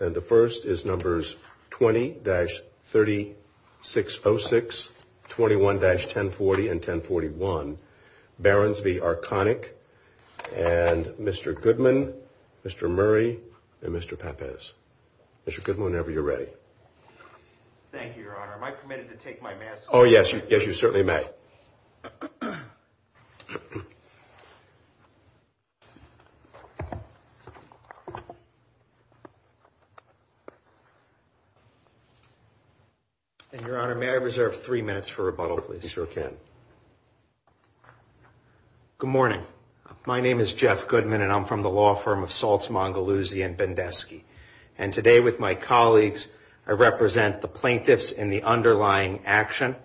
And the first is numbers 20-3606,21-1040 and 1041. Behrens v. Arconic and Mr. Goodman, Mr. Murray, and Mr. Pappas. Mr. Goodman, whenever you're ready. Thank you, your honor. Am I permitted to take my mask off? Oh, yes, yes, you certainly may. And your honor, may I reserve three minutes for rebuttal, please? You sure can. Good morning. My name is Jeff Goodman and I'm from the law firm of Salts, Mongoloosy, and Bendesky. And today with my colleagues, I represent the plaintiffs in the underlying action,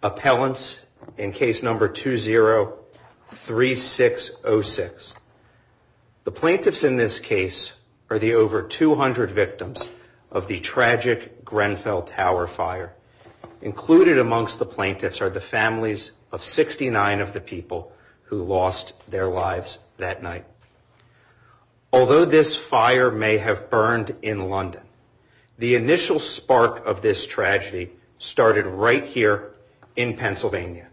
appellants in case number 20-3606. The plaintiffs in this case are the over 200 victims of the tragic Grenfell Tower fire. Included amongst the plaintiffs are the families of 69 of the people who lost their lives that night. Although this fire may have burned in London, the initial spark of this tragedy started right here in Pennsylvania.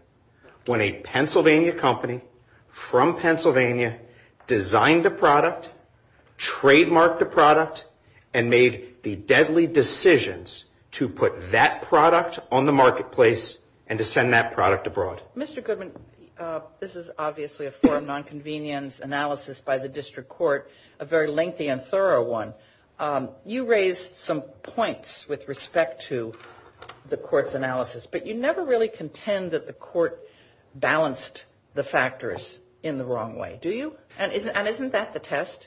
When a Pennsylvania company from Pennsylvania designed a product, trademarked the product, and made the deadly decisions to put that product on the marketplace and to send that product abroad. Mr. Goodman, this is obviously a form of non-convenience analysis by the district court, a very lengthy and thorough one. You raised some points with respect to the court's analysis, but you never really contend that the court balanced the factors in the wrong way. Do you? And isn't that the test?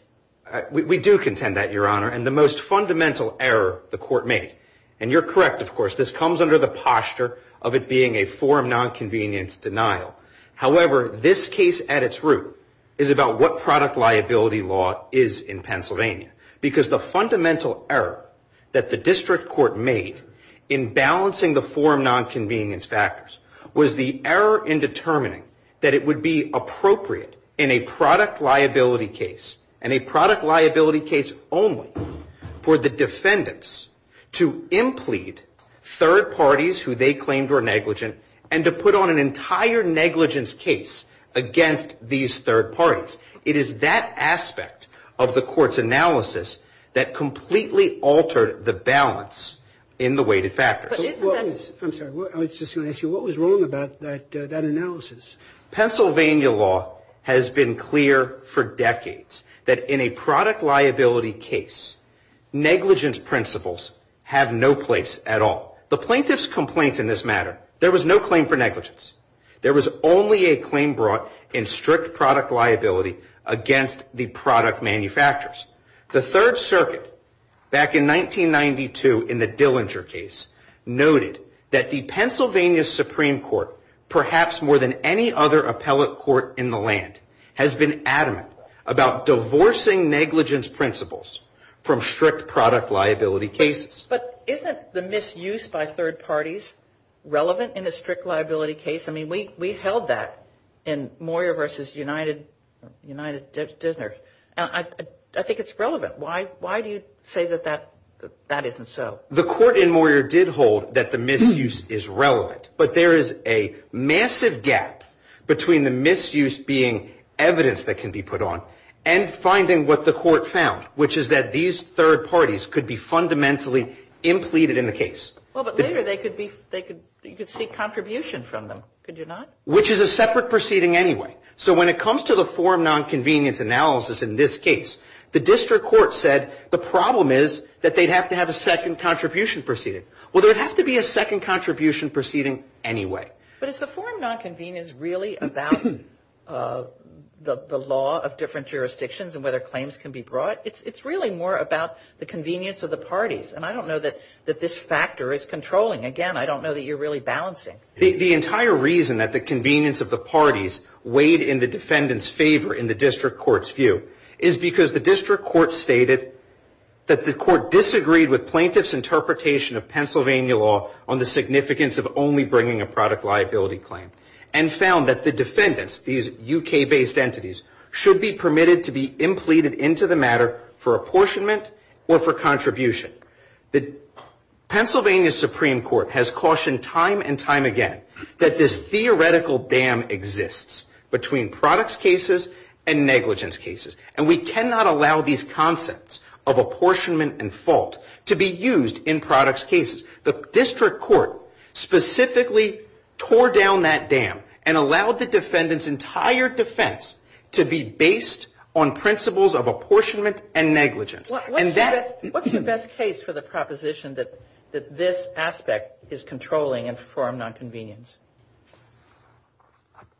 We do contend that, Your Honor. And the most fundamental error the court made, and you're correct, of course, this comes under the posture of it being a form non-convenience denial. However, this case at its root is about what product liability law is in Pennsylvania, because the fundamental error that the district court made in balancing the non-convenience factors was the error in determining that it would be appropriate in a product liability case, and a product liability case only, for the defendants to implead third parties who they claimed were negligent and to put on an entire negligence case against these third parties. It is that aspect of the court's analysis that completely altered the balance in the weighted factors. I'm sorry, I was just going to ask you, what was wrong about that analysis? Pennsylvania law has been clear for decades that in a product liability case, negligence principles have no place at all. The plaintiff's complaint in this matter, there was no claim for negligence. There was only a claim brought in strict product liability against the product manufacturers. The Third Circuit, back in 1992 in the Dillinger case, noted that the Pennsylvania Supreme Court, perhaps more than any other appellate court in the land, has been adamant about divorcing negligence principles from strict product liability cases. But isn't the misuse by third parties relevant in a strict liability case? I mean, we held that in Moyer versus United, I think it's relevant. Why do you say that that isn't so? The court in Moyer did hold that the misuse is relevant, but there is a massive gap between the misuse being evidence that can be put on and finding what the court found, which is that these third parties could be fundamentally impleaded in the case. Well, but later you could see contribution from them. Could you not? Which is a separate proceeding anyway. So when it comes to the form non-convenience analysis in this case, the district court said the problem is that they'd have to have a second contribution proceeding. Well, there would have to be a second contribution proceeding anyway. But is the form non-convenience really about the law of different jurisdictions and whether claims can be brought? It's really more about the convenience of the parties. And I don't know that this factor is controlling. Again, I don't know that you're really balancing. The entire reason that the convenience of the parties weighed in the defendant's favor in the district court's view is because the district court stated that the court disagreed with plaintiff's interpretation of Pennsylvania law on the significance of only bringing a product liability claim and found that the defendants, these UK based entities, should be permitted to be impleted into the matter for apportionment or for contribution. The Pennsylvania Supreme Court has cautioned time and time again that this theoretical dam exists between products cases and negligence cases. And we cannot allow these concepts of apportionment and fault to be used in products cases. The district court specifically tore down that dam and allowed the defendant's entire defense to be based on principles of apportionment and negligence. And that's what's the best case for the proposition that that this aspect is controlling and form nonconvenience.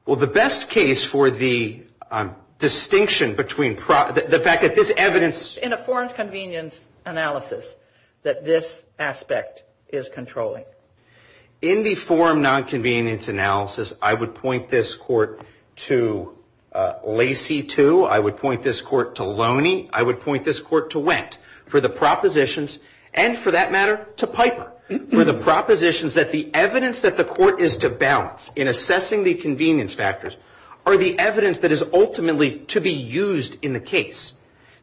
Well, the best case for the distinction between the fact that this evidence in a foreign convenience analysis that this aspect is controlling in the form nonconvenience analysis. I would point this court to Lacey too. I would point this court to Loney. I would point this court to Wendt for the propositions and for that matter to Piper for the propositions that the evidence that the court is to balance in assessing the convenience factors are the evidence that is ultimately to be used in the case.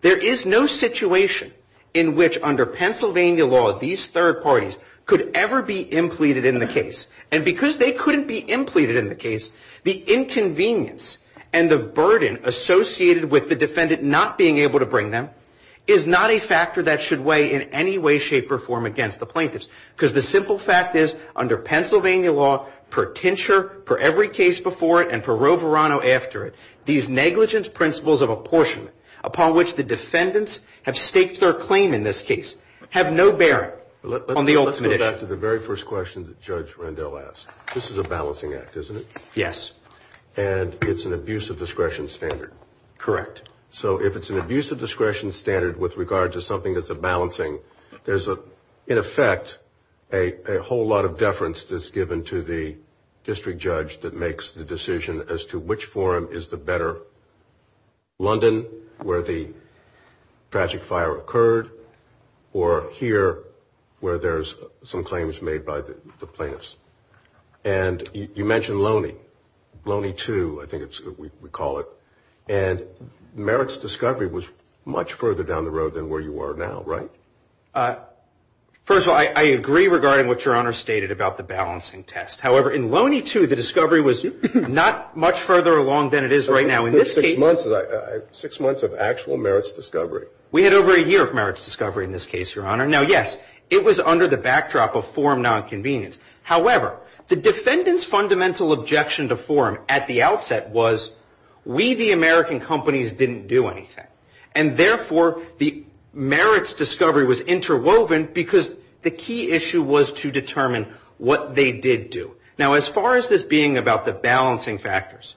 There is no situation in which under Pennsylvania law, these third parties could ever be impleted in the case. And because they couldn't be impleted in the case, the inconvenience and the harm that would bring them is not a factor that should weigh in any way, shape or form against the plaintiffs. Because the simple fact is under Pennsylvania law, per tincture, per every case before it, and per Roverano after it, these negligence principles of apportionment upon which the defendants have staked their claim in this case, have no bearing on the ultimate issue. Let's go back to the very first question that Judge Rendell asked. This is a balancing act, isn't it? Yes. And it's an abuse of discretion standard. Correct. So if it's an abuse of discretion standard with regard to something that's a balancing, there's a, in effect, a whole lot of deference that's given to the district judge that makes the decision as to which forum is the better. London, where the tragic fire occurred, or here where there's some claims made by the plaintiffs. And you mentioned Loney, Loney 2, I think we call it. And Merritt's discovery was much further down the road than where you are now. Right? Uh, first of all, I agree regarding what your honor stated about the balancing test. However, in Loney 2, the discovery was not much further along than it is right now. In this case, six months of actual Merritt's discovery. We had over a year of Merritt's discovery in this case, your honor. Now, yes, it was under the backdrop of forum nonconvenience. However, the defendant's fundamental objection to forum at the outset was, we the American companies didn't do anything. And therefore, the Merritt's discovery was interwoven because the key issue was to determine what they did do. Now, as far as this being about the balancing factors,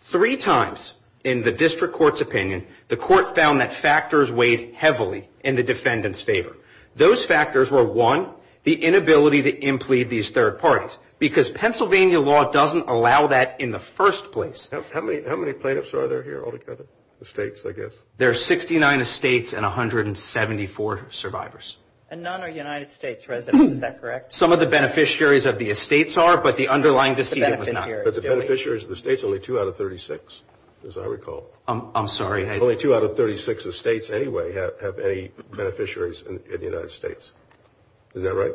three times in the district court's opinion, the court found that factors weighed heavily in the defendant's favor. Those factors were one, the inability to implead these third parties, because Pennsylvania law doesn't allow that in the first place. How many plaintiffs are there here altogether? The states, I guess. There are 69 estates and 174 survivors. And none are United States residents. Is that correct? Some of the beneficiaries of the estates are, but the underlying decision was not. But the beneficiaries of the states, only two out of 36, as I recall. I'm sorry. Only two out of 36 estates anyway have any beneficiaries in the United States. Is that right?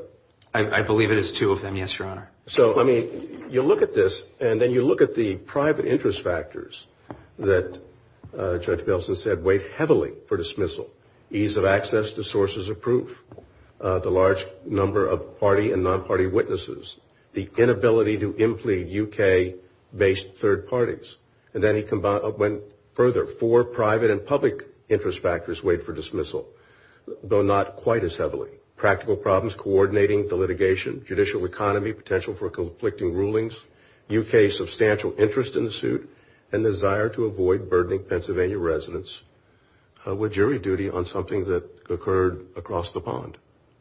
I believe it is two of them. Yes, your honor. So, I mean, you look at this and then you look at the private interest factors that Judge Belson said weighed heavily for dismissal. Ease of access to sources of proof, the large number of party and non-party witnesses, the inability to implead UK-based third parties. And then he went further. Four private and public interest factors weighed for dismissal, though not quite as heavily. Practical problems coordinating the litigation, judicial economy, potential for conflicting rulings, UK substantial interest in the suit, and desire to avoid burdening Pennsylvania residents with jury duty on something that occurred across the pond.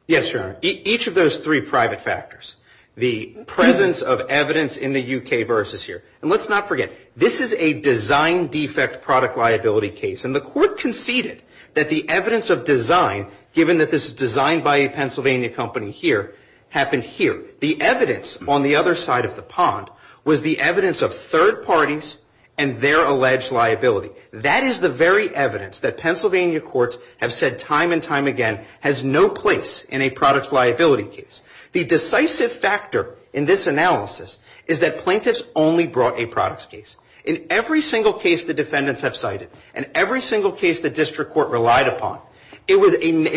Yes, your honor. Each of those three private factors, the presence of evidence in the UK versus here. And let's not forget, this is a design defect product liability case. And the court conceded that the evidence of design, given that this is designed by a Pennsylvania company here, happened here. The evidence on the other side of the pond was the evidence of third parties and their alleged liability. That is the very evidence that Pennsylvania courts have said time and time again has no place in a product liability case. The decisive factor in this analysis is that plaintiffs only brought a products case. In every single case the defendants have cited and every single case the district court relied upon, it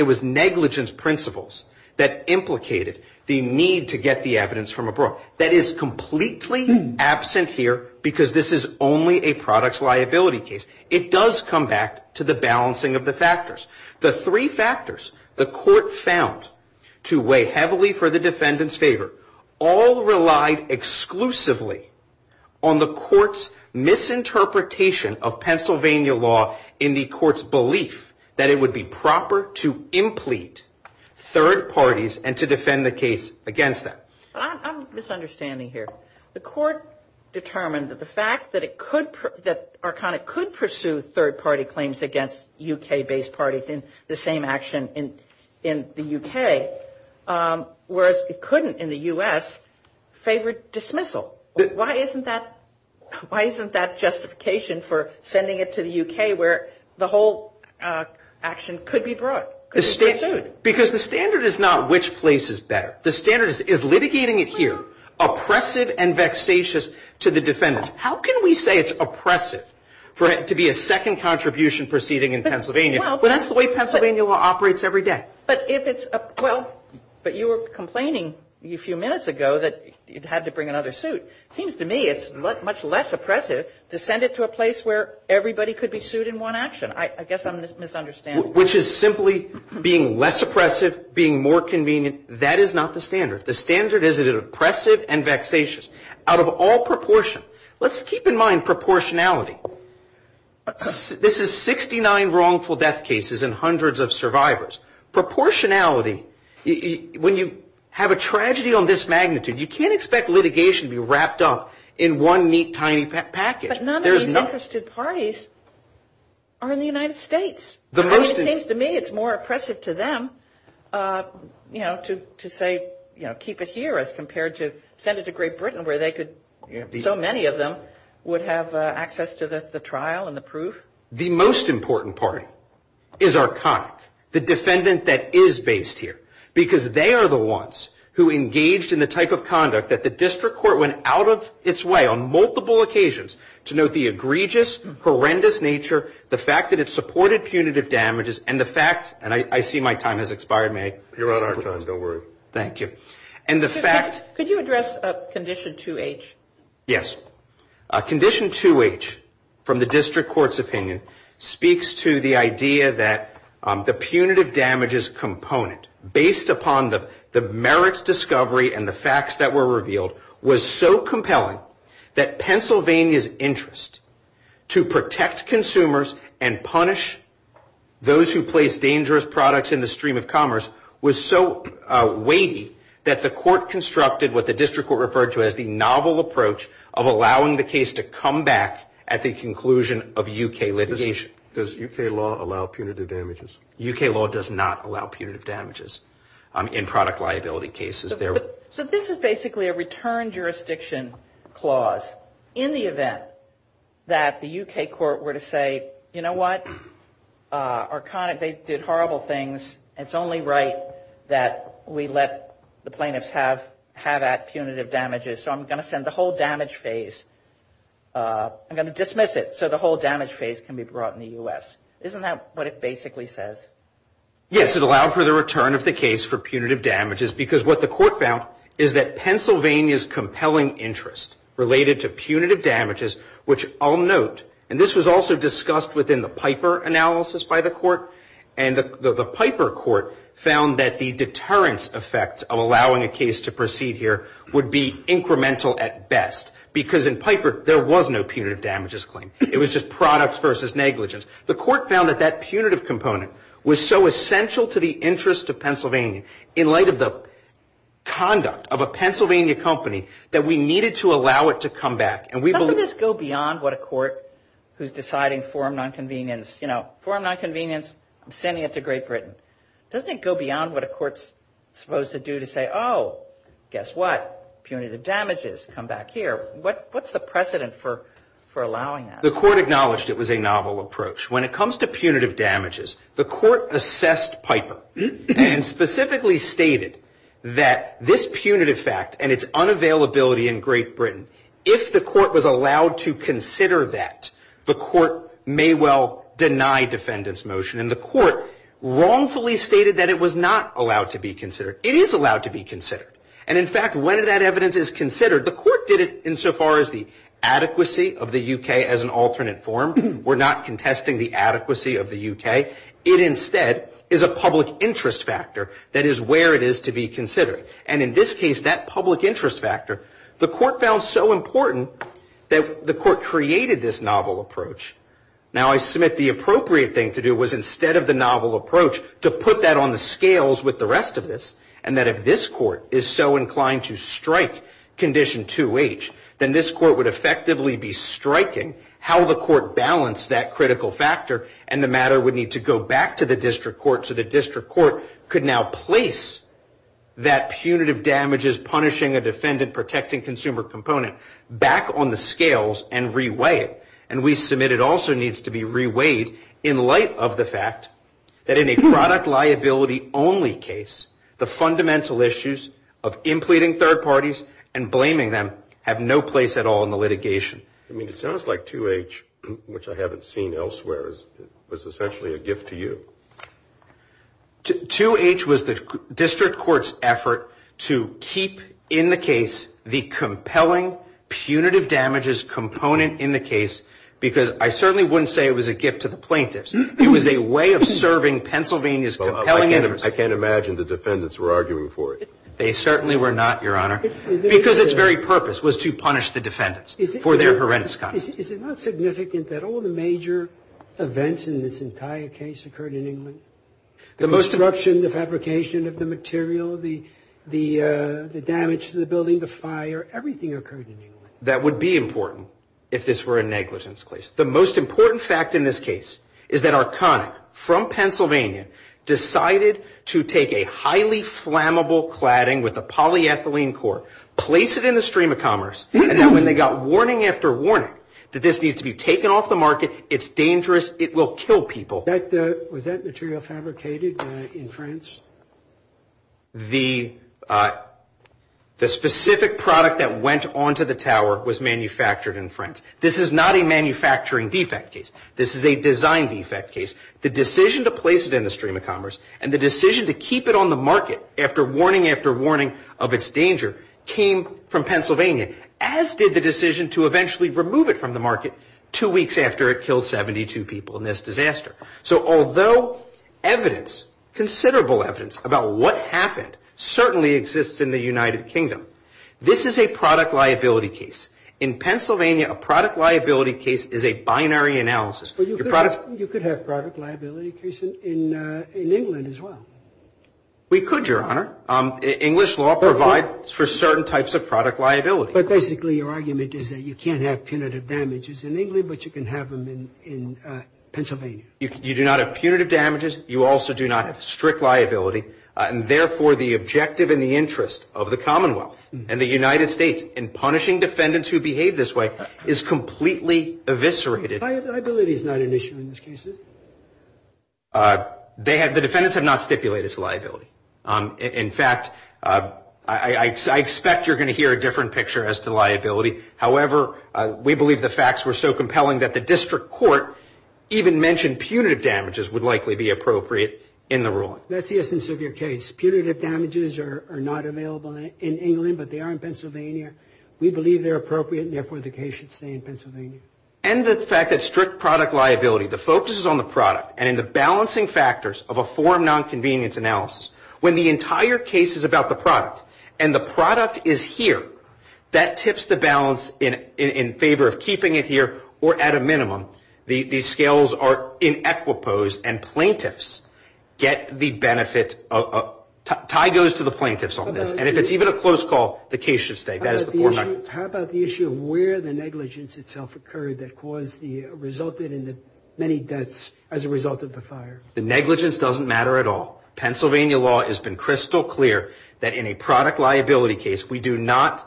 was negligence principles that implicated the need to get the evidence from abroad. That is completely absent here because this is only a products liability case. It does come back to the balancing of the factors. The three factors the court found to weigh heavily for the defendants favor all relied exclusively on the court's misinterpretation of Pennsylvania law in the court's belief that it would be proper to implete third parties and to defend the case against that. I'm misunderstanding here. The court determined that the fact that it could that Arcona could pursue third party claims against UK based parties in the same action in the UK, whereas it couldn't in the US, favored dismissal. Why isn't that justification for sending it to the UK where the whole action could be brought? Because the standard is not which place is better. The standard is litigating it here, oppressive and vexatious to the defendants. How can we say it's oppressive for it to be a second contribution proceeding in Pennsylvania? Well, that's the way Pennsylvania law operates every day. But if it's well, but you were complaining a few minutes ago that it had to bring another suit. It seems to me it's much less oppressive to send it to a place where everybody could be sued in one action. I guess I'm misunderstanding. Which is simply being less oppressive, being more convenient. That is not the standard. The standard is an oppressive and vexatious out of all proportion. Let's keep in mind proportionality. This is 69 wrongful death cases and hundreds of survivors. Proportionality. When you have a tragedy on this magnitude, you can't expect litigation to be wrapped up in one neat, tiny package. But none of these interested parties are in the United States. The most it seems to me it's more oppressive to them, you know, to to say, you know, keep it here as compared to send it to Great Britain, where they could be so many of them would have access to the trial and the proof. The most important part is our kind, the defendant that is based here, because they are the ones who engaged in the type of conduct that the district court went out of its way on multiple occasions to note the egregious, horrendous nature. The fact that it supported punitive damages and the fact and I see my time has expired. May I? You're on our time. Don't worry. Thank you. And the fact. Could you address condition 2H? Yes. Condition 2H from the district court's opinion speaks to the idea that the punitive damages component based upon the merits discovery and the facts that were revealed was so compelling that Pennsylvania's interest to protect consumers and punish those who place dangerous products in the stream of commerce was so weighty that the court constructed what the district were referred to as the novel approach of allowing the case to come back at the conclusion of UK litigation. Does UK law allow punitive damages? UK law does not allow punitive damages in product liability cases. So this is basically a return jurisdiction clause in the event that the UK court were to say, you know what, Arcona, they did horrible things. It's only right that we let the plaintiffs have at punitive damages. So I'm going to send the whole damage phase. I'm going to dismiss it. So the whole damage phase can be brought in the U.S. Isn't that what it basically says? Yes, it allowed for the return of the case for punitive damages because what the court found is that Pennsylvania's compelling interest related to punitive damages, which I'll note, and this was also discussed within the Piper analysis by the court, and the Piper court found that the deterrence effects of allowing a case to proceed here would be incremental at best because in Piper there was no punitive damages claim. It was just products versus negligence. The court found that that punitive component was so essential to the interest of Pennsylvania in light of the conduct of a Pennsylvania company that we needed to allow it to come back. And we believe this go beyond what a court who's deciding forum nonconvenience, you know, forum nonconvenience, I'm sending it to Great Britain. Doesn't it go beyond what a court's supposed to do to say, oh, guess what? Punitive damages come back here. What what's the precedent for for allowing that? The court acknowledged it was a novel approach. When it comes to punitive damages, the court assessed Piper and specifically stated that this punitive fact and its unavailability in Great Britain, if the court was allowed to consider that, the court may well deny defendant's motion. And the court wrongfully stated that it was not allowed to be considered. It is allowed to be considered. And in fact, when that evidence is considered, the court did it insofar as the adequacy of the UK as an alternate form. We're not contesting the adequacy of the UK. It instead is a public interest factor that is where it is to be considered. And in this case, that public interest factor, the court found so important that the court created this novel approach. Now, I submit the appropriate thing to do was instead of the novel approach to put that on the scales with the rest of this, and that if this court is so inclined to strike condition 2H, then this court would effectively be striking how the court balanced that critical factor. And the matter would need to go back to the district court. So the district court could now place that punitive damages, punishing a defendant, protecting consumer component back on the scales and reweigh it. And we submit it also needs to be reweighed in light of the fact that in a product liability only case, the fundamental issues of impleting third parties and blaming them have no place at all in the litigation. I mean, it sounds like 2H, which I haven't seen elsewhere, was essentially a gift to you. 2H was the district court's effort to keep in the case the compelling punitive damages component in the case, because I certainly wouldn't say it was a gift to the plaintiff. I can't imagine the defendants were arguing for it. They certainly were not, Your Honor, because its very purpose was to punish the defendants for their horrendous conduct. Is it not significant that all the major events in this entire case occurred in England? The construction, the fabrication of the material, the damage to the building, the fire, everything occurred in England. That would be important if this were a negligence case. The most important fact in this case is that Arconic, from Pennsylvania, decided to take a highly flammable cladding with a polyethylene core, place it in the stream of commerce, and then when they got warning after warning that this needs to be taken off the market, it's dangerous, it will kill people. Was that material fabricated in France? The specific product that went onto the tower was manufactured in France. This is not a manufacturing defect case. This is a design defect case. The decision to place it in the stream of commerce and the decision to keep it on the market after warning after warning of its danger came from Pennsylvania, as did the decision to eventually remove it from the market two weeks after it killed 72 people in this disaster. So although evidence, considerable evidence, about what happened certainly exists in the United Kingdom, this is a product liability case. In Pennsylvania, a product liability case is a binary analysis. You could have a product liability case in England as well. We could, Your Honor. English law provides for certain types of product liability. But basically, your argument is that you can't have punitive damages in England, but you can have them in Pennsylvania. You do not have punitive damages. You also do not have strict liability. And therefore, the objective and the interest of the Commonwealth and the United States in punishing defendants who behave this way is completely eviscerated. Liability is not an issue in these cases. They have the defendants have not stipulated liability. In fact, I expect you're going to hear a different picture as to liability. However, we believe the facts were so compelling that the district court even mentioned punitive damages would likely be appropriate in the ruling. That's the essence of your case. Punitive damages are not available in England, but they are in Pennsylvania. We believe they're appropriate. Therefore, the case should stay in Pennsylvania. And the fact that strict product liability, the focus is on the product and in the balancing factors of a form nonconvenience analysis when the entire case is about the product and the product is here, that tips the balance in favor of keeping it here or at a minimum. These scales are in equiposed and plaintiffs get the benefit. Tie goes to the plaintiffs on this. And if it's even a close call, the case should stay. How about the issue of where the negligence itself occurred that caused the resulted in the many deaths as a result of the fire? The negligence doesn't matter at all. Pennsylvania law has been crystal clear that in a product liability case, we do not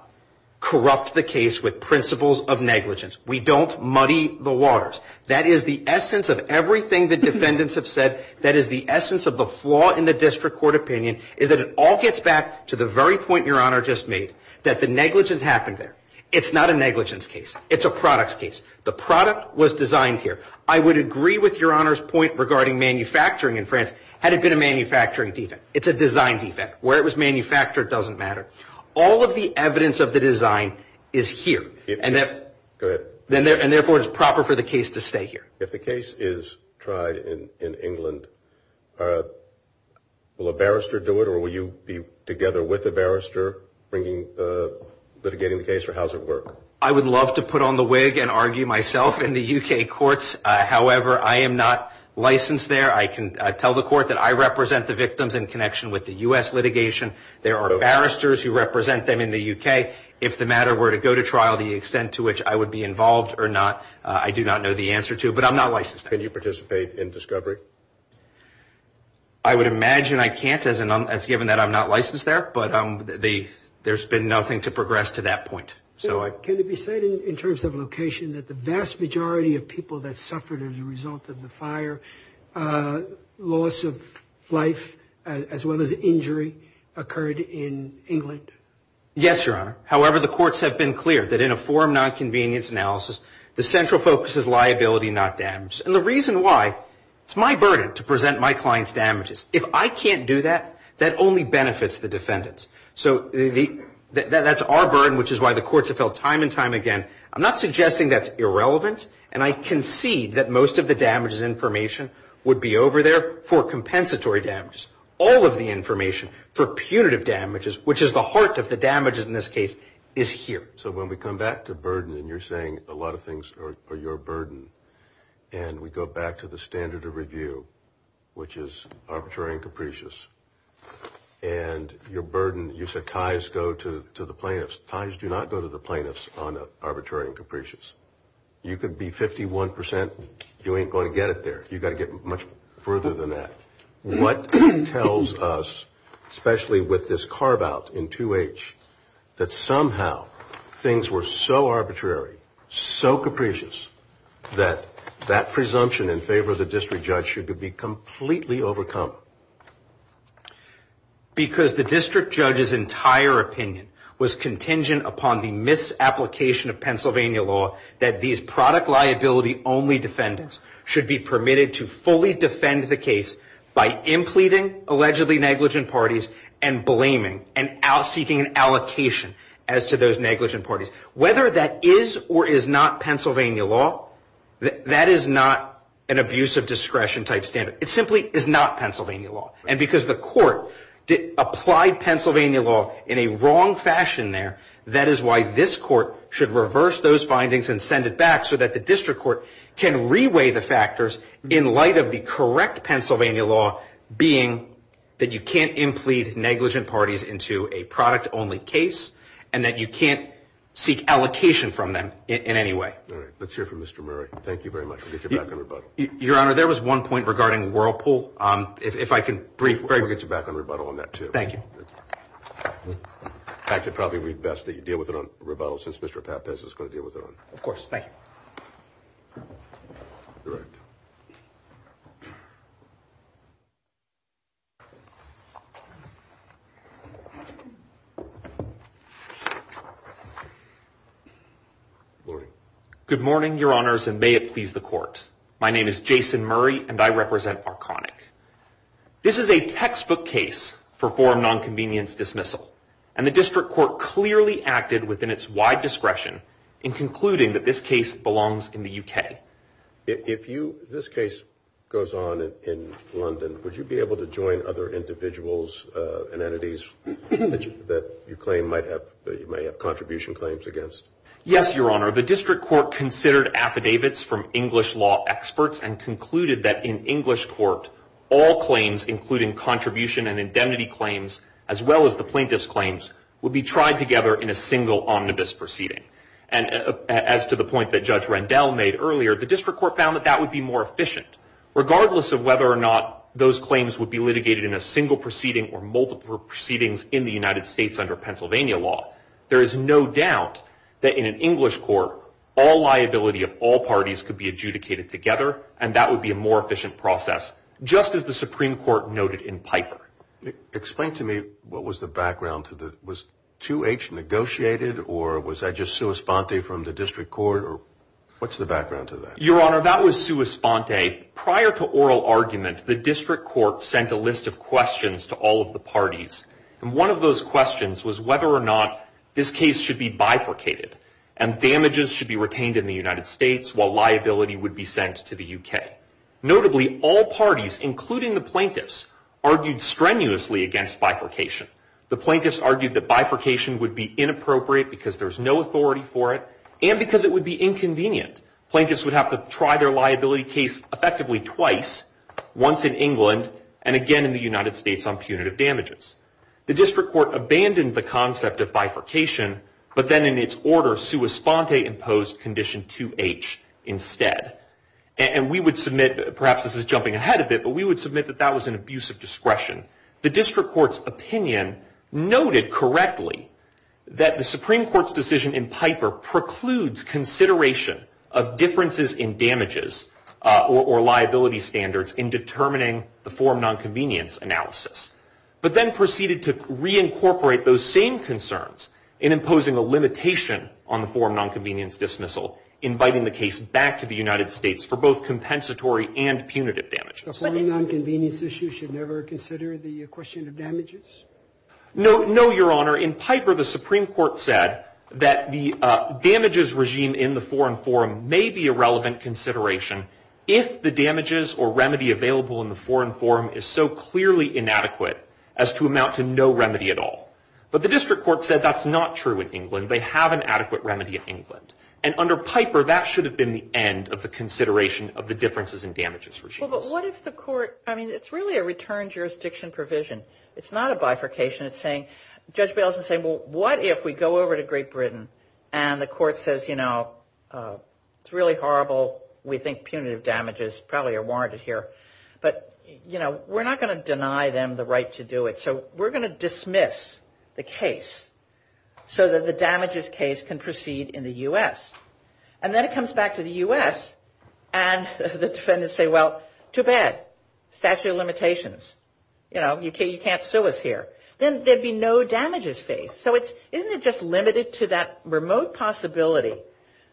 corrupt the case with principles of negligence. We don't muddy the waters. That is the essence of everything the defendants have said. That is the essence of the flaw in the district court opinion is that it all gets back to the very point your honor just made that the negligence happened there. It's not a negligence case. It's a product's case. The product was designed here. I would agree with your honor's point regarding manufacturing in France had it been a manufacturing defect. It's a design defect where it was manufactured. It doesn't matter. All of the evidence of the design is here and that good then there and therefore it's proper for the case to stay here. If the case is tried in England, will a barrister do it or will you be together with a barrister bringing the litigation case or how does it work? I would love to put on the wig and argue myself in the UK courts. However, I am not licensed there. I can tell the court that I represent the victims in connection with the US litigation. There are barristers who represent them in the UK. If the matter were to go to trial, the extent to which I would be involved or not, I do not know the answer to. But I'm not licensed. Can you participate in discovery? I would imagine I can't as given that I'm not licensed there. But there's been nothing to progress to that point. So can it be said in terms of location that the vast majority of people that suffered as a result of the fire loss of life as well as injury occurred in England? Yes, your honor. However, the courts have been clear that in a forum nonconvenience analysis, the central focus is liability, not damage. And the reason why it's my burden to present my clients damages. If I can't do that, that only benefits the defendants. So that's our burden, which is why the courts have held time and time again. I'm not suggesting that's irrelevant. And I concede that most of the damages information would be over there for compensatory damages. All of the information for punitive damages, which is the heart of the damages in this case, is here. So when we come back to burden and you're saying a lot of things are your burden and we go back to the standard of review, which is arbitrary and capricious and your burden, you said ties go to the plaintiffs. Ties do not go to the plaintiffs on arbitrary and capricious. You could be 51 percent. You ain't going to get it there. You've got to get much further than that. What tells us, especially with this carve out in 2H, that somehow things were so arbitrary, so capricious that that presumption in favor of the district judge should be completely overcome? Because the district judge's entire opinion was contingent upon the misapplication of Pennsylvania law that these product liability only defendants should be permitted to defend the case by impleting allegedly negligent parties and blaming and out seeking an allocation as to those negligent parties. Whether that is or is not Pennsylvania law, that is not an abuse of discretion type standard. It simply is not Pennsylvania law. And because the court did apply Pennsylvania law in a wrong fashion there. That is why this court should reverse those findings and send it back so that the correct Pennsylvania law being that you can't implead negligent parties into a product only case and that you can't seek allocation from them in any way. Let's hear from Mr. Murray. Thank you very much. Your Honor, there was one point regarding Whirlpool. If I can briefly get you back on rebuttal on that, too. Thank you. I could probably read best that you deal with it on rebuttal since Mr. Pappas is going to deal with it. Of course. Thank you. Good morning, Your Honors, and may it please the court. My name is Jason Murray and I represent Arconic. This is a textbook case for nonconvenience dismissal and the district court clearly acted within its wide discretion in concluding that this case belongs in the UK. If you this case goes on in London, would you be able to join other individuals and entities that you claim might have that you may have contribution claims against? Yes, Your Honor. The district court considered affidavits from English law experts and concluded that in English court, all claims, including contribution and indemnity claims, as well as the plaintiff's claims, would be tried together in a single omnibus proceeding. And as to the point that Judge Rendell made earlier, the district court found that that would be more efficient, regardless of whether or not those claims would be litigated in a single proceeding or multiple proceedings in the United States under Pennsylvania law. There is no doubt that in an English court, all liability of all parties could be adjudicated together, and that would be a more efficient process, just as the Supreme Court noted in Piper. Explain to me what was the background to the was 2H negotiated or was that just sua sponte from the district court? Or what's the background to that? Your Honor, that was sua sponte. Prior to oral argument, the district court sent a list of questions to all of the parties. And one of those questions was whether or not this case should be bifurcated and damages should be retained in the United States while liability would be sent to the UK. Notably, all parties, including the plaintiffs, argued strenuously against bifurcation. The plaintiffs argued that bifurcation would be inappropriate because there's no authority for it and because it would be inconvenient. Plaintiffs would have to try their liability case effectively twice, once in England and again in the United States on punitive damages. The district court abandoned the concept of bifurcation, but then in its order, sua sponte imposed condition 2H instead. And we would submit, perhaps this is jumping ahead a bit, but we would submit that that was an abuse of discretion. The district court's opinion noted correctly that the Supreme Court's decision in Piper precludes consideration of differences in damages or liability standards in determining the form nonconvenience analysis, but then proceeded to reincorporate those same concerns in imposing a limitation on the form nonconvenience dismissal, inviting the case back to the United States for both compensatory and punitive damages. The form nonconvenience issue should never consider the question of damages? No, no, Your Honor. In Piper, the Supreme Court said that the damages regime in the foreign forum may be a relevant consideration if the damages or remedy available in the foreign forum is so clearly inadequate as to amount to no remedy at all. But the district court said that's not true in England. They have an adequate remedy in England. And under Piper, that should have been the end of the consideration of the differences in damages regime. Well, but what if the court, I mean, it's really a return jurisdiction provision. It's not a bifurcation. It's saying, Judge Bales is saying, well, what if we go over to Great Britain and the court says, you know, it's really horrible, we think punitive damages probably are warranted here. But, you know, we're not going to deny them the right to do it. So we're going to dismiss the case so that the damages case can proceed in the U.S. And then it comes back to the U.S. And the defendants say, well, too bad, statute of limitations. You know, you can't sue us here. Then there'd be no damages phase. So it's isn't it just limited to that remote possibility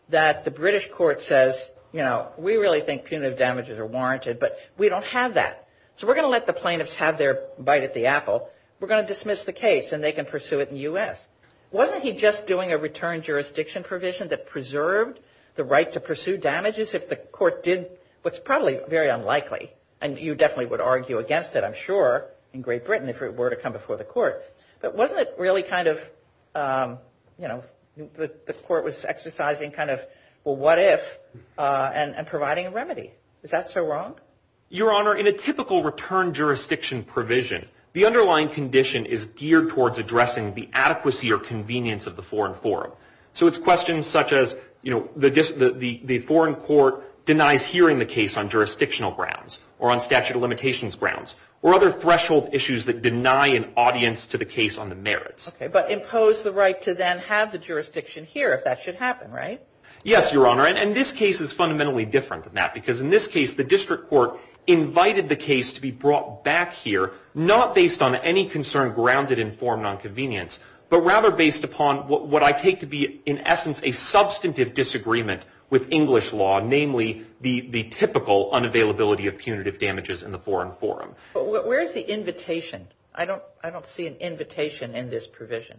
that the British court says, you know, we really think punitive damages are warranted, but we don't have that. So we're going to let the plaintiffs have their bite at the apple. We're going to dismiss the case and they can pursue it in the U.S. Wasn't he just doing a return jurisdiction provision that preserved the right to pursue damages if the court did what's probably very unlikely? And you definitely would argue against it, I'm sure, in Great Britain if it were to come before the court. But wasn't it really kind of, you know, the court was exercising kind of, well, what if, and providing a remedy? Is that so wrong? Your Honor, in a typical return jurisdiction provision, the underlying condition is geared towards addressing the adequacy or convenience of the foreign forum. So it's questions such as, you know, the foreign court denies hearing the case on jurisdictional grounds or on statute of limitations grounds or other threshold issues that deny an audience to the case on the merits. But impose the right to then have the jurisdiction here if that should happen, right? Yes, Your Honor. And this case is fundamentally different than that, because in this case, the district court invited the case to be brought back here, not based on any concern grounded in foreign nonconvenience, but rather based upon what I take to be, in essence, a substantive disagreement with English law, namely the typical unavailability of punitive damages in the foreign forum. But where's the invitation? I don't I don't see an invitation in this provision.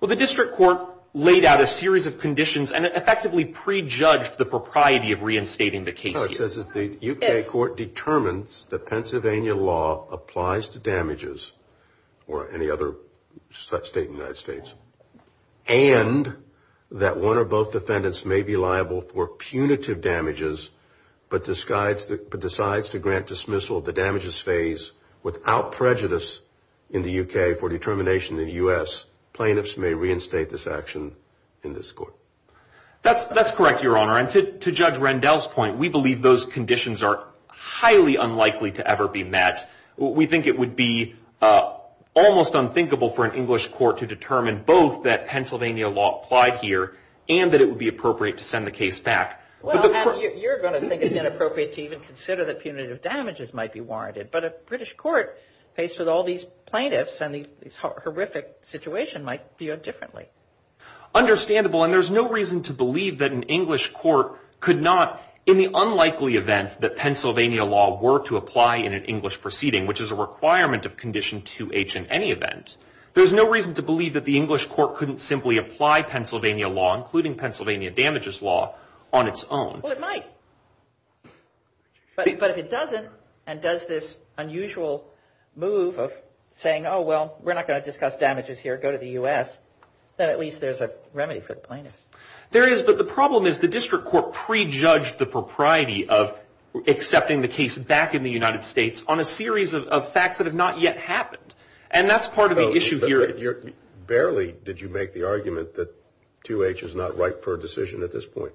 Well, the district court laid out a series of conditions and effectively prejudged the propriety of reinstating the case. It says that the U.K. court determines that Pennsylvania law applies to damages or any other state in the United States and that one or both defendants may be liable for punitive damages, but decides to grant dismissal of the damages phase without prejudice in the U.K. for determination in the U.S. Plaintiffs may reinstate this action in this court. That's that's correct, Your Honor. And to Judge Rendell's point, we believe those conditions are highly unlikely to ever be met. We think it would be almost unthinkable for an English court to determine both that Pennsylvania law applied here and that it would be appropriate to send the case back. Well, you're going to think it's inappropriate to even consider that punitive damages might be warranted. But a British court faced with all these plaintiffs and these horrific situation might view it differently. Understandable, and there's no reason to believe that an English court could not in the unlikely event that Pennsylvania law were to apply in an English proceeding, which is a requirement of Condition 2H in any event. There's no reason to believe that the English court couldn't simply apply Pennsylvania law, including Pennsylvania damages law on its own. Well, it might. But if it doesn't and does this unusual move of saying, oh, well, we're not going to discuss damages here, go to the U.S., then at least there's a remedy for the plaintiffs. There is. But the problem is the district court prejudged the propriety of accepting the case back in the United States on a series of facts that have not yet happened. And that's part of the issue here. Barely did you make the argument that 2H is not right for a decision at this point.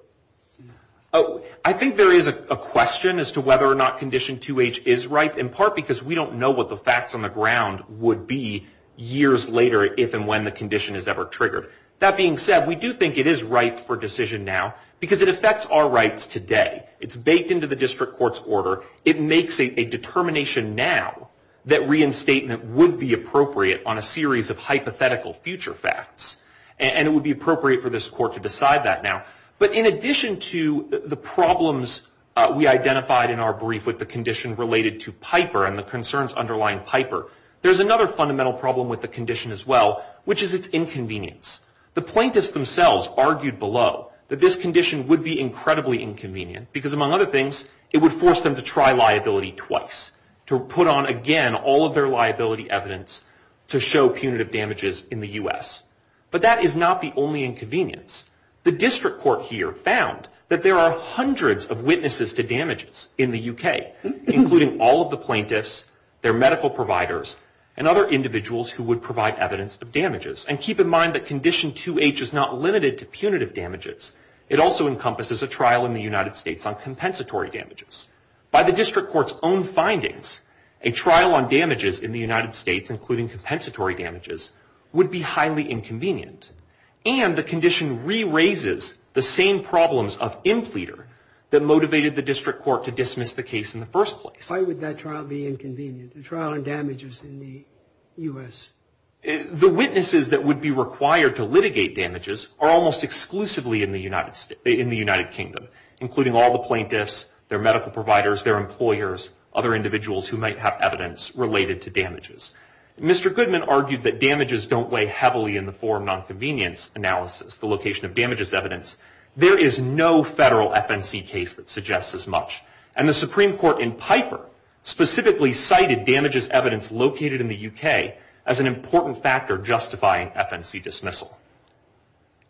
Oh, I think there is a question as to whether or not Condition 2H is right, in part because we don't know what the facts on the ground would be years later, if and when the condition is ever triggered. That being said, we do think it is right for decision now because it affects our rights today. It's baked into the district court's order. It makes a determination now that reinstatement would be appropriate on a series of hypothetical future facts. And it would be appropriate for this court to decide that now. But in addition to the problems we identified in our brief with the condition related to concerns underlying Piper, there's another fundamental problem with the condition as well, which is its inconvenience. The plaintiffs themselves argued below that this condition would be incredibly inconvenient because, among other things, it would force them to try liability twice to put on again all of their liability evidence to show punitive damages in the U.S. But that is not the only inconvenience. The district court here found that there are hundreds of witnesses to damages in the U.K., including all of the plaintiffs, their medical providers, and other individuals who would provide evidence of damages. And keep in mind that Condition 2H is not limited to punitive damages. It also encompasses a trial in the United States on compensatory damages. By the district court's own findings, a trial on damages in the United States, including compensatory damages, would be highly inconvenient. And the condition re-raises the same problems of impleader that motivated the district court to dismiss the case in the first place. Why would that trial be inconvenient? The trial on damages in the U.S.? The witnesses that would be required to litigate damages are almost exclusively in the United States, in the United Kingdom, including all the plaintiffs, their medical providers, their employers, other individuals who might have evidence related to damages. Mr. Goodman argued that damages don't weigh heavily in the form of nonconvenience analysis, the location of damages evidence. There is no federal FNC case that suggests as much. And the Supreme Court in Piper specifically cited damages evidence located in the U.K. as an important factor justifying FNC dismissal.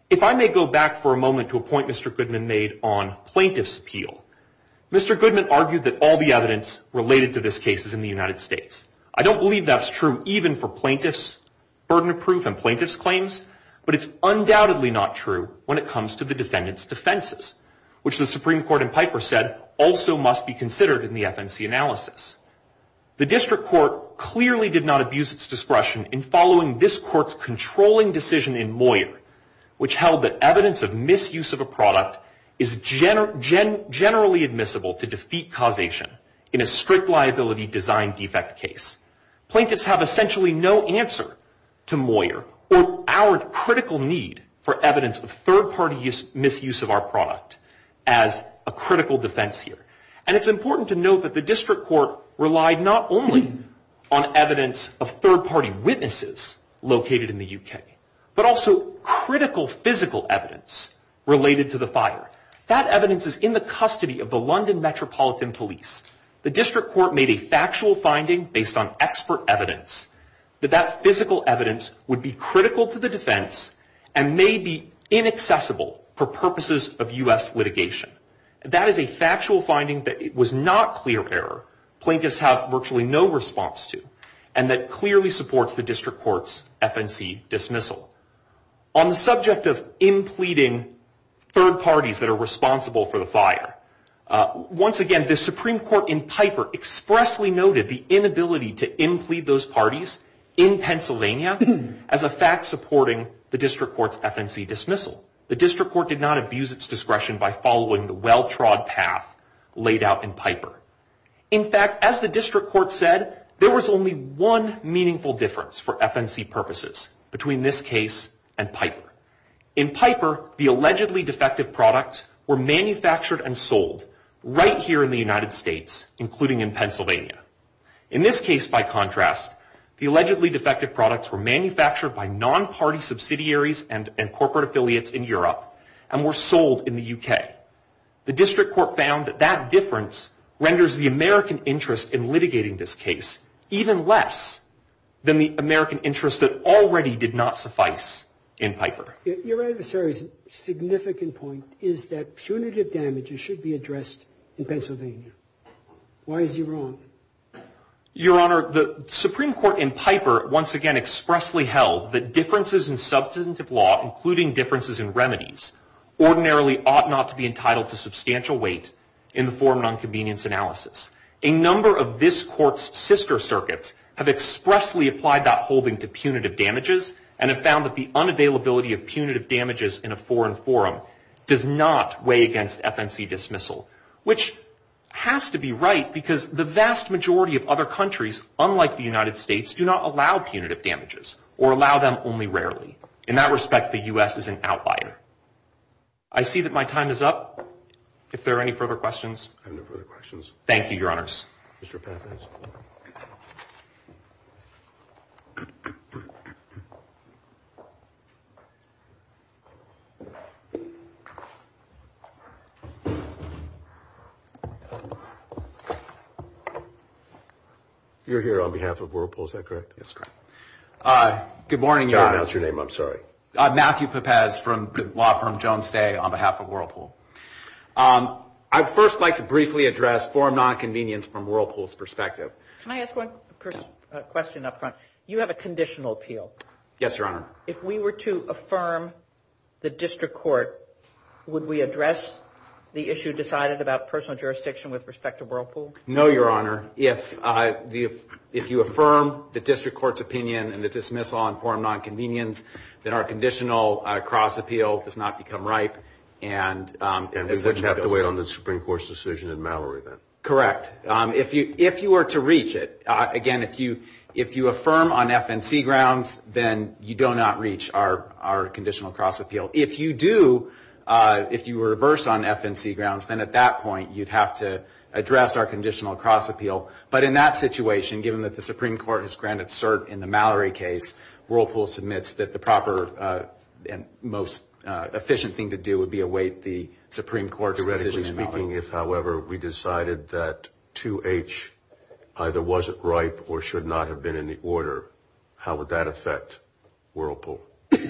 If I may go back for a moment to a point Mr. Goodman made on plaintiff's appeal, Mr. Goodman argued that all the evidence related to this case is in the United States. I don't believe that's true even for plaintiff's burden of proof and plaintiff's undoubtedly not true when it comes to the defendant's defenses, which the Supreme Court in Piper said also must be considered in the FNC analysis. The district court clearly did not abuse its discretion in following this court's controlling decision in Moyer, which held that evidence of misuse of a product is generally admissible to defeat causation in a strict liability design defect case. Plaintiffs have essentially no answer to Moyer or our critical need for evidence of third party misuse of our product as a critical defense here. And it's important to note that the district court relied not only on evidence of third party witnesses located in the U.K., but also critical physical evidence related to the fire. That evidence is in the custody of the London Metropolitan Police. The district court made a factual finding based on expert evidence that that physical evidence would be critical to the defense and may be inaccessible for purposes of U.S. litigation. That is a factual finding that it was not clear error. Plaintiffs have virtually no response to and that clearly supports the district court's FNC dismissal. On the subject of impleting third parties that are responsible for the fire, once again, the Supreme Court in Piper expressly noted the inability to implead those parties in Pennsylvania as a fact supporting the district court's FNC dismissal. The district court did not abuse its discretion by following the well-trod path laid out in Piper. In fact, as the district court said, there was only one meaningful difference for FNC purposes between this case and Piper. In Piper, the allegedly defective products were manufactured and sold right here in the United States, including in Pennsylvania. In this case, by contrast, the allegedly defective products were manufactured by non-party subsidiaries and corporate affiliates in Europe and were sold in the U.K. The district court found that that difference renders the American interest in litigating this case even less than the American interest that already did not suffice in Piper. Your adversary's significant point is that punitive damages should be addressed in Why is he wrong? Your Honor, the Supreme Court in Piper once again expressly held that differences in substantive law, including differences in remedies, ordinarily ought not to be entitled to substantial weight in the forum on convenience analysis. A number of this court's sister circuits have expressly applied that holding to punitive damages and have found that the unavailability of punitive damages in a foreign forum does not weigh against FNC dismissal, which has to be right because the vast majority of other countries, unlike the United States, do not allow punitive damages or allow them only rarely. In that respect, the U.S. is an outlier. I see that my time is up. If there are any further questions, I have no further questions. Thank you, Your Honors. You're here on behalf of Whirlpool, is that correct? That's correct. Good morning, Your Honor. I don't know your name, I'm sorry. Matthew Pepez from law firm Jones Day on behalf of Whirlpool. I'd first like to briefly address forum nonconvenience from Whirlpool's perspective. Can I ask one question up front? You have a conditional appeal. Yes, Your Honor. If we were to affirm the district court, would we address the issue decided about personal jurisdiction with respect to Whirlpool? No, Your Honor. If you affirm the district court's opinion and the dismissal on forum nonconvenience, then our conditional cross appeal does not become ripe. And we wouldn't have to wait on the Supreme Court's decision in Mallory, then? Correct. If you were to reach it, again, if you affirm on FNC grounds, then you don't reach our conditional cross appeal. If you do, if you were to reverse on FNC grounds, then at that point, you'd have to address our conditional cross appeal. But in that situation, given that the Supreme Court has granted cert in the Mallory case, Whirlpool submits that the proper and most efficient thing to do would be await the Supreme Court's decision in Mallory. Theoretically speaking, if, however, we decided that 2H either wasn't ripe or should not have been in the order, how would that affect Whirlpool? If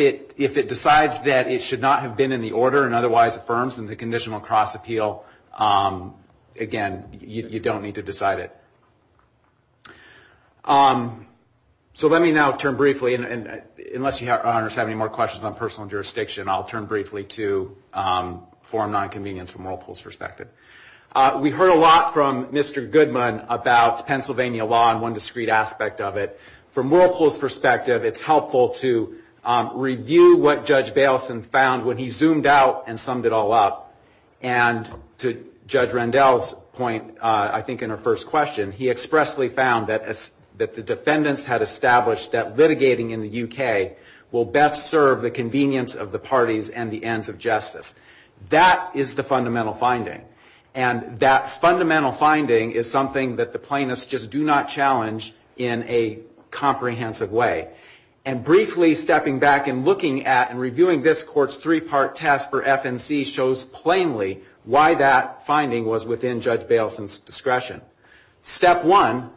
it decides that it should not have been in the order and otherwise affirms in the conditional cross appeal, again, you don't need to decide it. So let me now turn briefly, and unless you have any more questions on personal jurisdiction, I'll turn briefly to forum nonconvenience from Whirlpool's perspective. We heard a lot from Mr. Goodman about Pennsylvania law and one discreet aspect of it. From Whirlpool's perspective, it's helpful to review what Judge Baleson found when he zoomed out and summed it all up. And to Judge Rendell's point, I think in her first question, he expressly found that the defendants had established that litigating in the UK will best serve the convenience of the parties and the ends of justice. That is the fundamental finding. And that fundamental finding is something that the plaintiffs just do not challenge in a comprehensive way. And briefly stepping back and looking at and reviewing this court's three-part test for FNC shows plainly why that finding was within Judge Baleson's discretion. Step one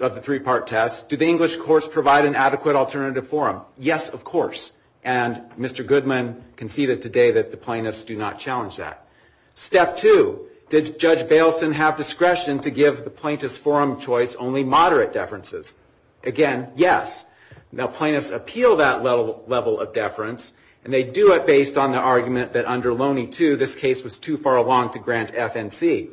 of the three-part test, do the English courts provide an adequate alternative forum? Yes, of course. And Mr. Goodman conceded today that the plaintiffs do not challenge that. Step two, did Judge Baleson have discretion to give the plaintiff's forum choice only moderate deferences? Again, yes. Now, plaintiffs appeal that level of deference and they do it based on the argument that under Loney 2, this case was too far along to grant FNC.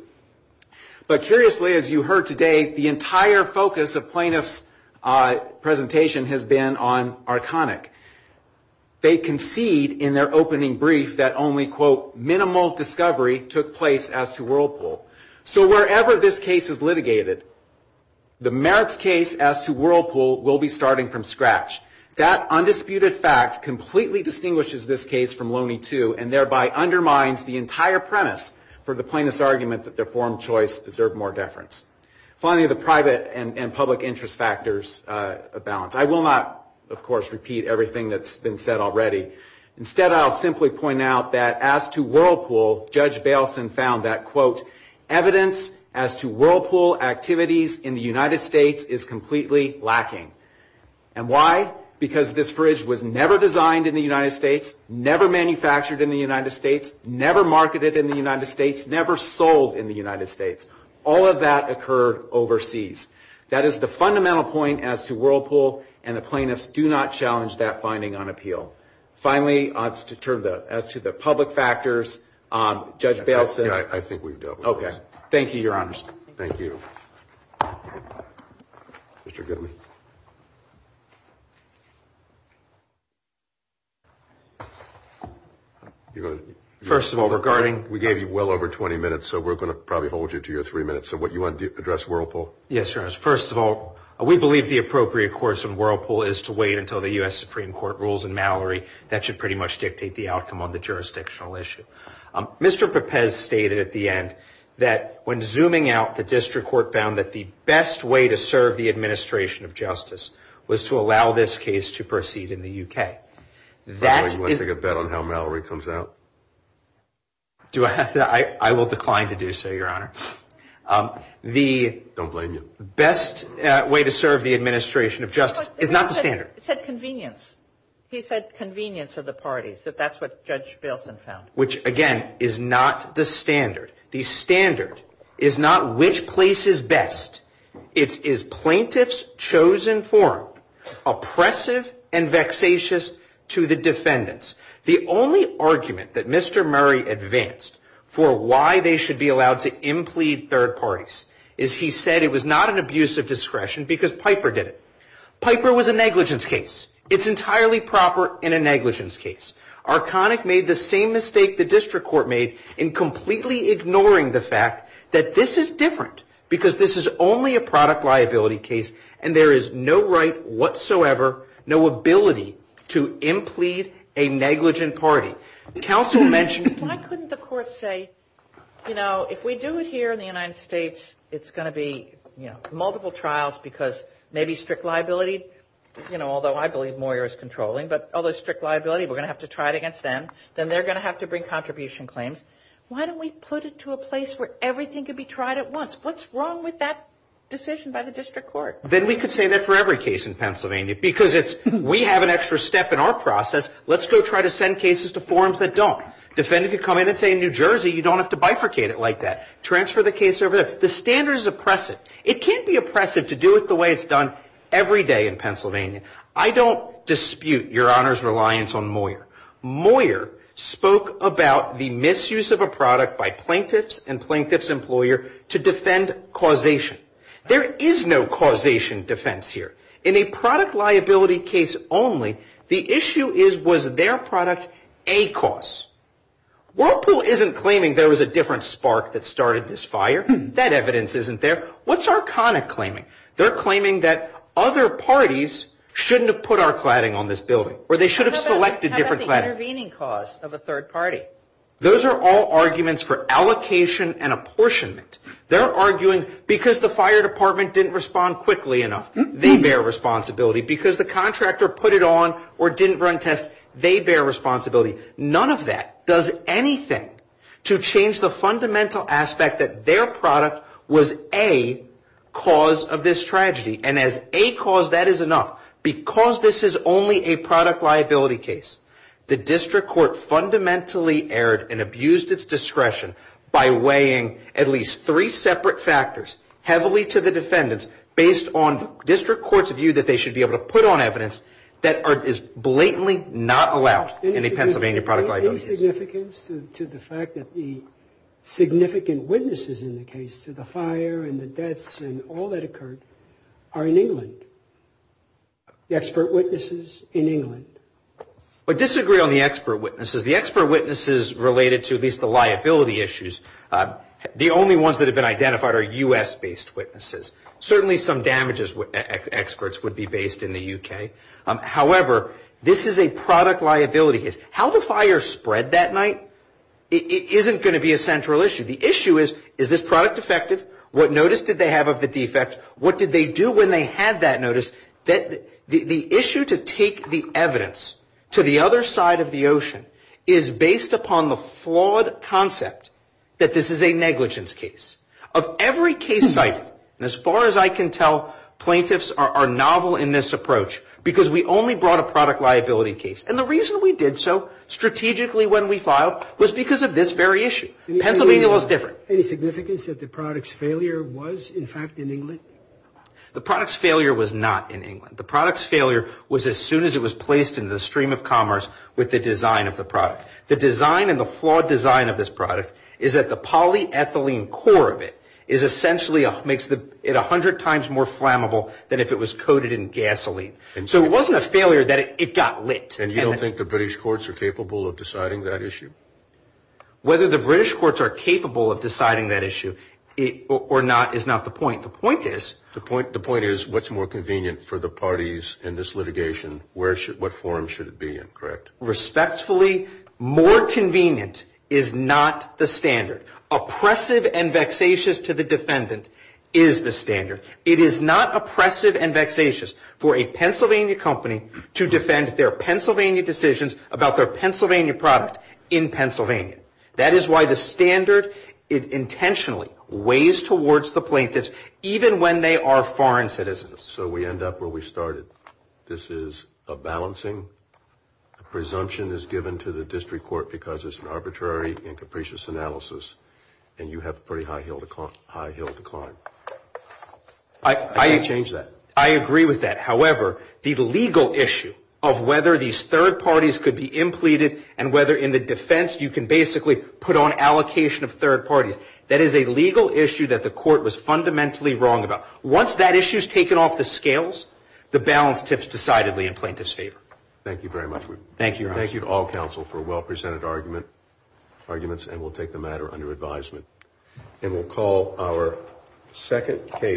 But curiously, as you heard today, the entire focus of plaintiffs' presentation has been on Arconic. They concede in their opening brief that only, quote, minimal discovery took place as to Whirlpool. So wherever this case is litigated, the merits case as to Whirlpool will be starting from scratch. That undisputed fact completely distinguishes this case from Loney 2 and thereby undermines the entire premise for the plaintiff's argument that their forum choice deserved more deference. Finally, the private and public interest factors of balance. I will not, of course, repeat everything that's been said already. Instead, I'll simply point out that as to Whirlpool, Judge Baleson found that, quote, evidence as to Whirlpool activities in the United States is completely lacking. And why? Because this fridge was never designed in the United States, never manufactured in the United States, never marketed in the United States, never sold in the United States. All of that occurred overseas. That is the fundamental point as to Whirlpool, and the plaintiffs do not challenge that finding on appeal. Finally, as to the public factors, Judge Baleson. I think we've dealt with this. Okay. Thank you, Your Honors. Thank you. Mr. Goodman. First of all, regarding. We gave you well over 20 minutes, so we're going to probably hold you to your three minutes of what you want to address Whirlpool. Yes, Your Honors. First of all, we believe the appropriate course in Whirlpool is to wait until the U.S. Supreme Court rules in Mallory. That should pretty much dictate the outcome on the jurisdictional issue. Mr. Pepez stated at the end that when zooming out, the district court found that the best way to serve the administration of justice was to allow this case to proceed in the UK. That is. I'd like to get that on how Mallory comes out. Do I have that? I will decline to do so, Your Honor. The best way to serve the administration of justice is not the standard. It said convenience. He said convenience of the parties, that that's what Judge Bailson found, which again is not the standard. The standard is not which place is best. It is plaintiff's chosen form, oppressive and vexatious to the defendants. The only argument that Mr. Arconic used to implede third parties is he said it was not an abuse of discretion because Piper did it. Piper was a negligence case. It's entirely proper in a negligence case. Arconic made the same mistake the district court made in completely ignoring the fact that this is different because this is only a product liability case and there is no right whatsoever, no ability to implede a negligent party. Counsel mentioned... Why couldn't the court say, you know, if we do it here in the United States, it's going to be, you know, multiple trials because maybe strict liability, you know, although I believe Moyer is controlling, but although strict liability, we're going to have to try it against them. Then they're going to have to bring contribution claims. Why don't we put it to a place where everything could be tried at once? What's wrong with that decision by the district court? Then we could say that for every case in Pennsylvania because it's, we have an extra step in our process. Let's go try to send cases to forums that don't. Defendant could come in and say in New Jersey, you don't have to bifurcate it like that. Transfer the case over there. The standard is oppressive. It can't be oppressive to do it the way it's done every day in Pennsylvania. I don't dispute your honor's reliance on Moyer. Moyer spoke about the misuse of a product by plaintiffs and plaintiffs employer to defend causation. There is no causation defense here. In a product liability case only the issue is, was their product a cause? Whirlpool isn't claiming there was a different spark that started this fire. That evidence isn't there. What's Arcona claiming? They're claiming that other parties shouldn't have put our cladding on this building, or they should have selected different cladding. How about the intervening cause of a third party? Those are all arguments for allocation and apportionment. They're arguing because the fire department didn't respond quickly enough. They bear responsibility because the contractor put it on or didn't run tests. They bear responsibility. None of that does anything to change the fundamental aspect that their product was a cause of this tragedy. And as a cause that is enough, because this is only a product liability case, the district court fundamentally erred and abused its discretion by weighing at least three separate factors heavily to the defendants based on district court's view that they should be able to put on evidence that is blatantly not allowed in a Pennsylvania product liability case. Any significance to the fact that the significant witnesses in the case to the fire and the deaths and all that occurred are in England? The expert witnesses in England? I disagree on the expert witnesses. The expert witnesses related to at least the liability issues. The only ones that have been identified are U.S.-based witnesses. Certainly some damages experts would be based in the U.K. However, this is a product liability case. How the fire spread that night isn't going to be a central issue. The issue is, is this product effective? What notice did they have of the defect? What did they do when they had that notice? That the issue to take the evidence to the other side of the ocean is based upon the fact that this is a negligence case. Of every case cited, and as far as I can tell, plaintiffs are novel in this approach because we only brought a product liability case. And the reason we did so strategically when we filed was because of this very issue. Pennsylvania was different. Any significance that the product's failure was in fact in England? The product's failure was not in England. The product's failure was as soon as it was placed in the stream of commerce with the design of the product. The design and the flawed design of this product is that the polyethylene core of it is essentially, makes it a hundred times more flammable than if it was coated in gasoline. And so it wasn't a failure that it got lit. And you don't think the British courts are capable of deciding that issue? Whether the British courts are capable of deciding that issue or not is not the point. The point is. The point, the point is what's more convenient for the parties in this litigation? Where should, what forum should it be in, correct? Respectfully, more convenient is not the standard. Oppressive and vexatious to the defendant is the standard. It is not oppressive and vexatious for a Pennsylvania company to defend their Pennsylvania decisions about their Pennsylvania product in Pennsylvania. That is why the standard, it intentionally weighs towards the plaintiffs even when they are foreign citizens. So we end up where we started. This is a balancing presumption is given to the district court because it's an arbitrary and capricious analysis and you have a pretty high hill to climb. I change that. I agree with that. However, the legal issue of whether these third parties could be implemented and whether in the defense you can basically put on allocation of third parties. That is a legal issue that the court was fundamentally wrong about. Once that issue is taken off the scales, the balance tips decidedly in plaintiff's favor. Thank you very much. Thank you. Thank you to all counsel for well presented arguments and we'll take the matter under advisement and we'll call our second case.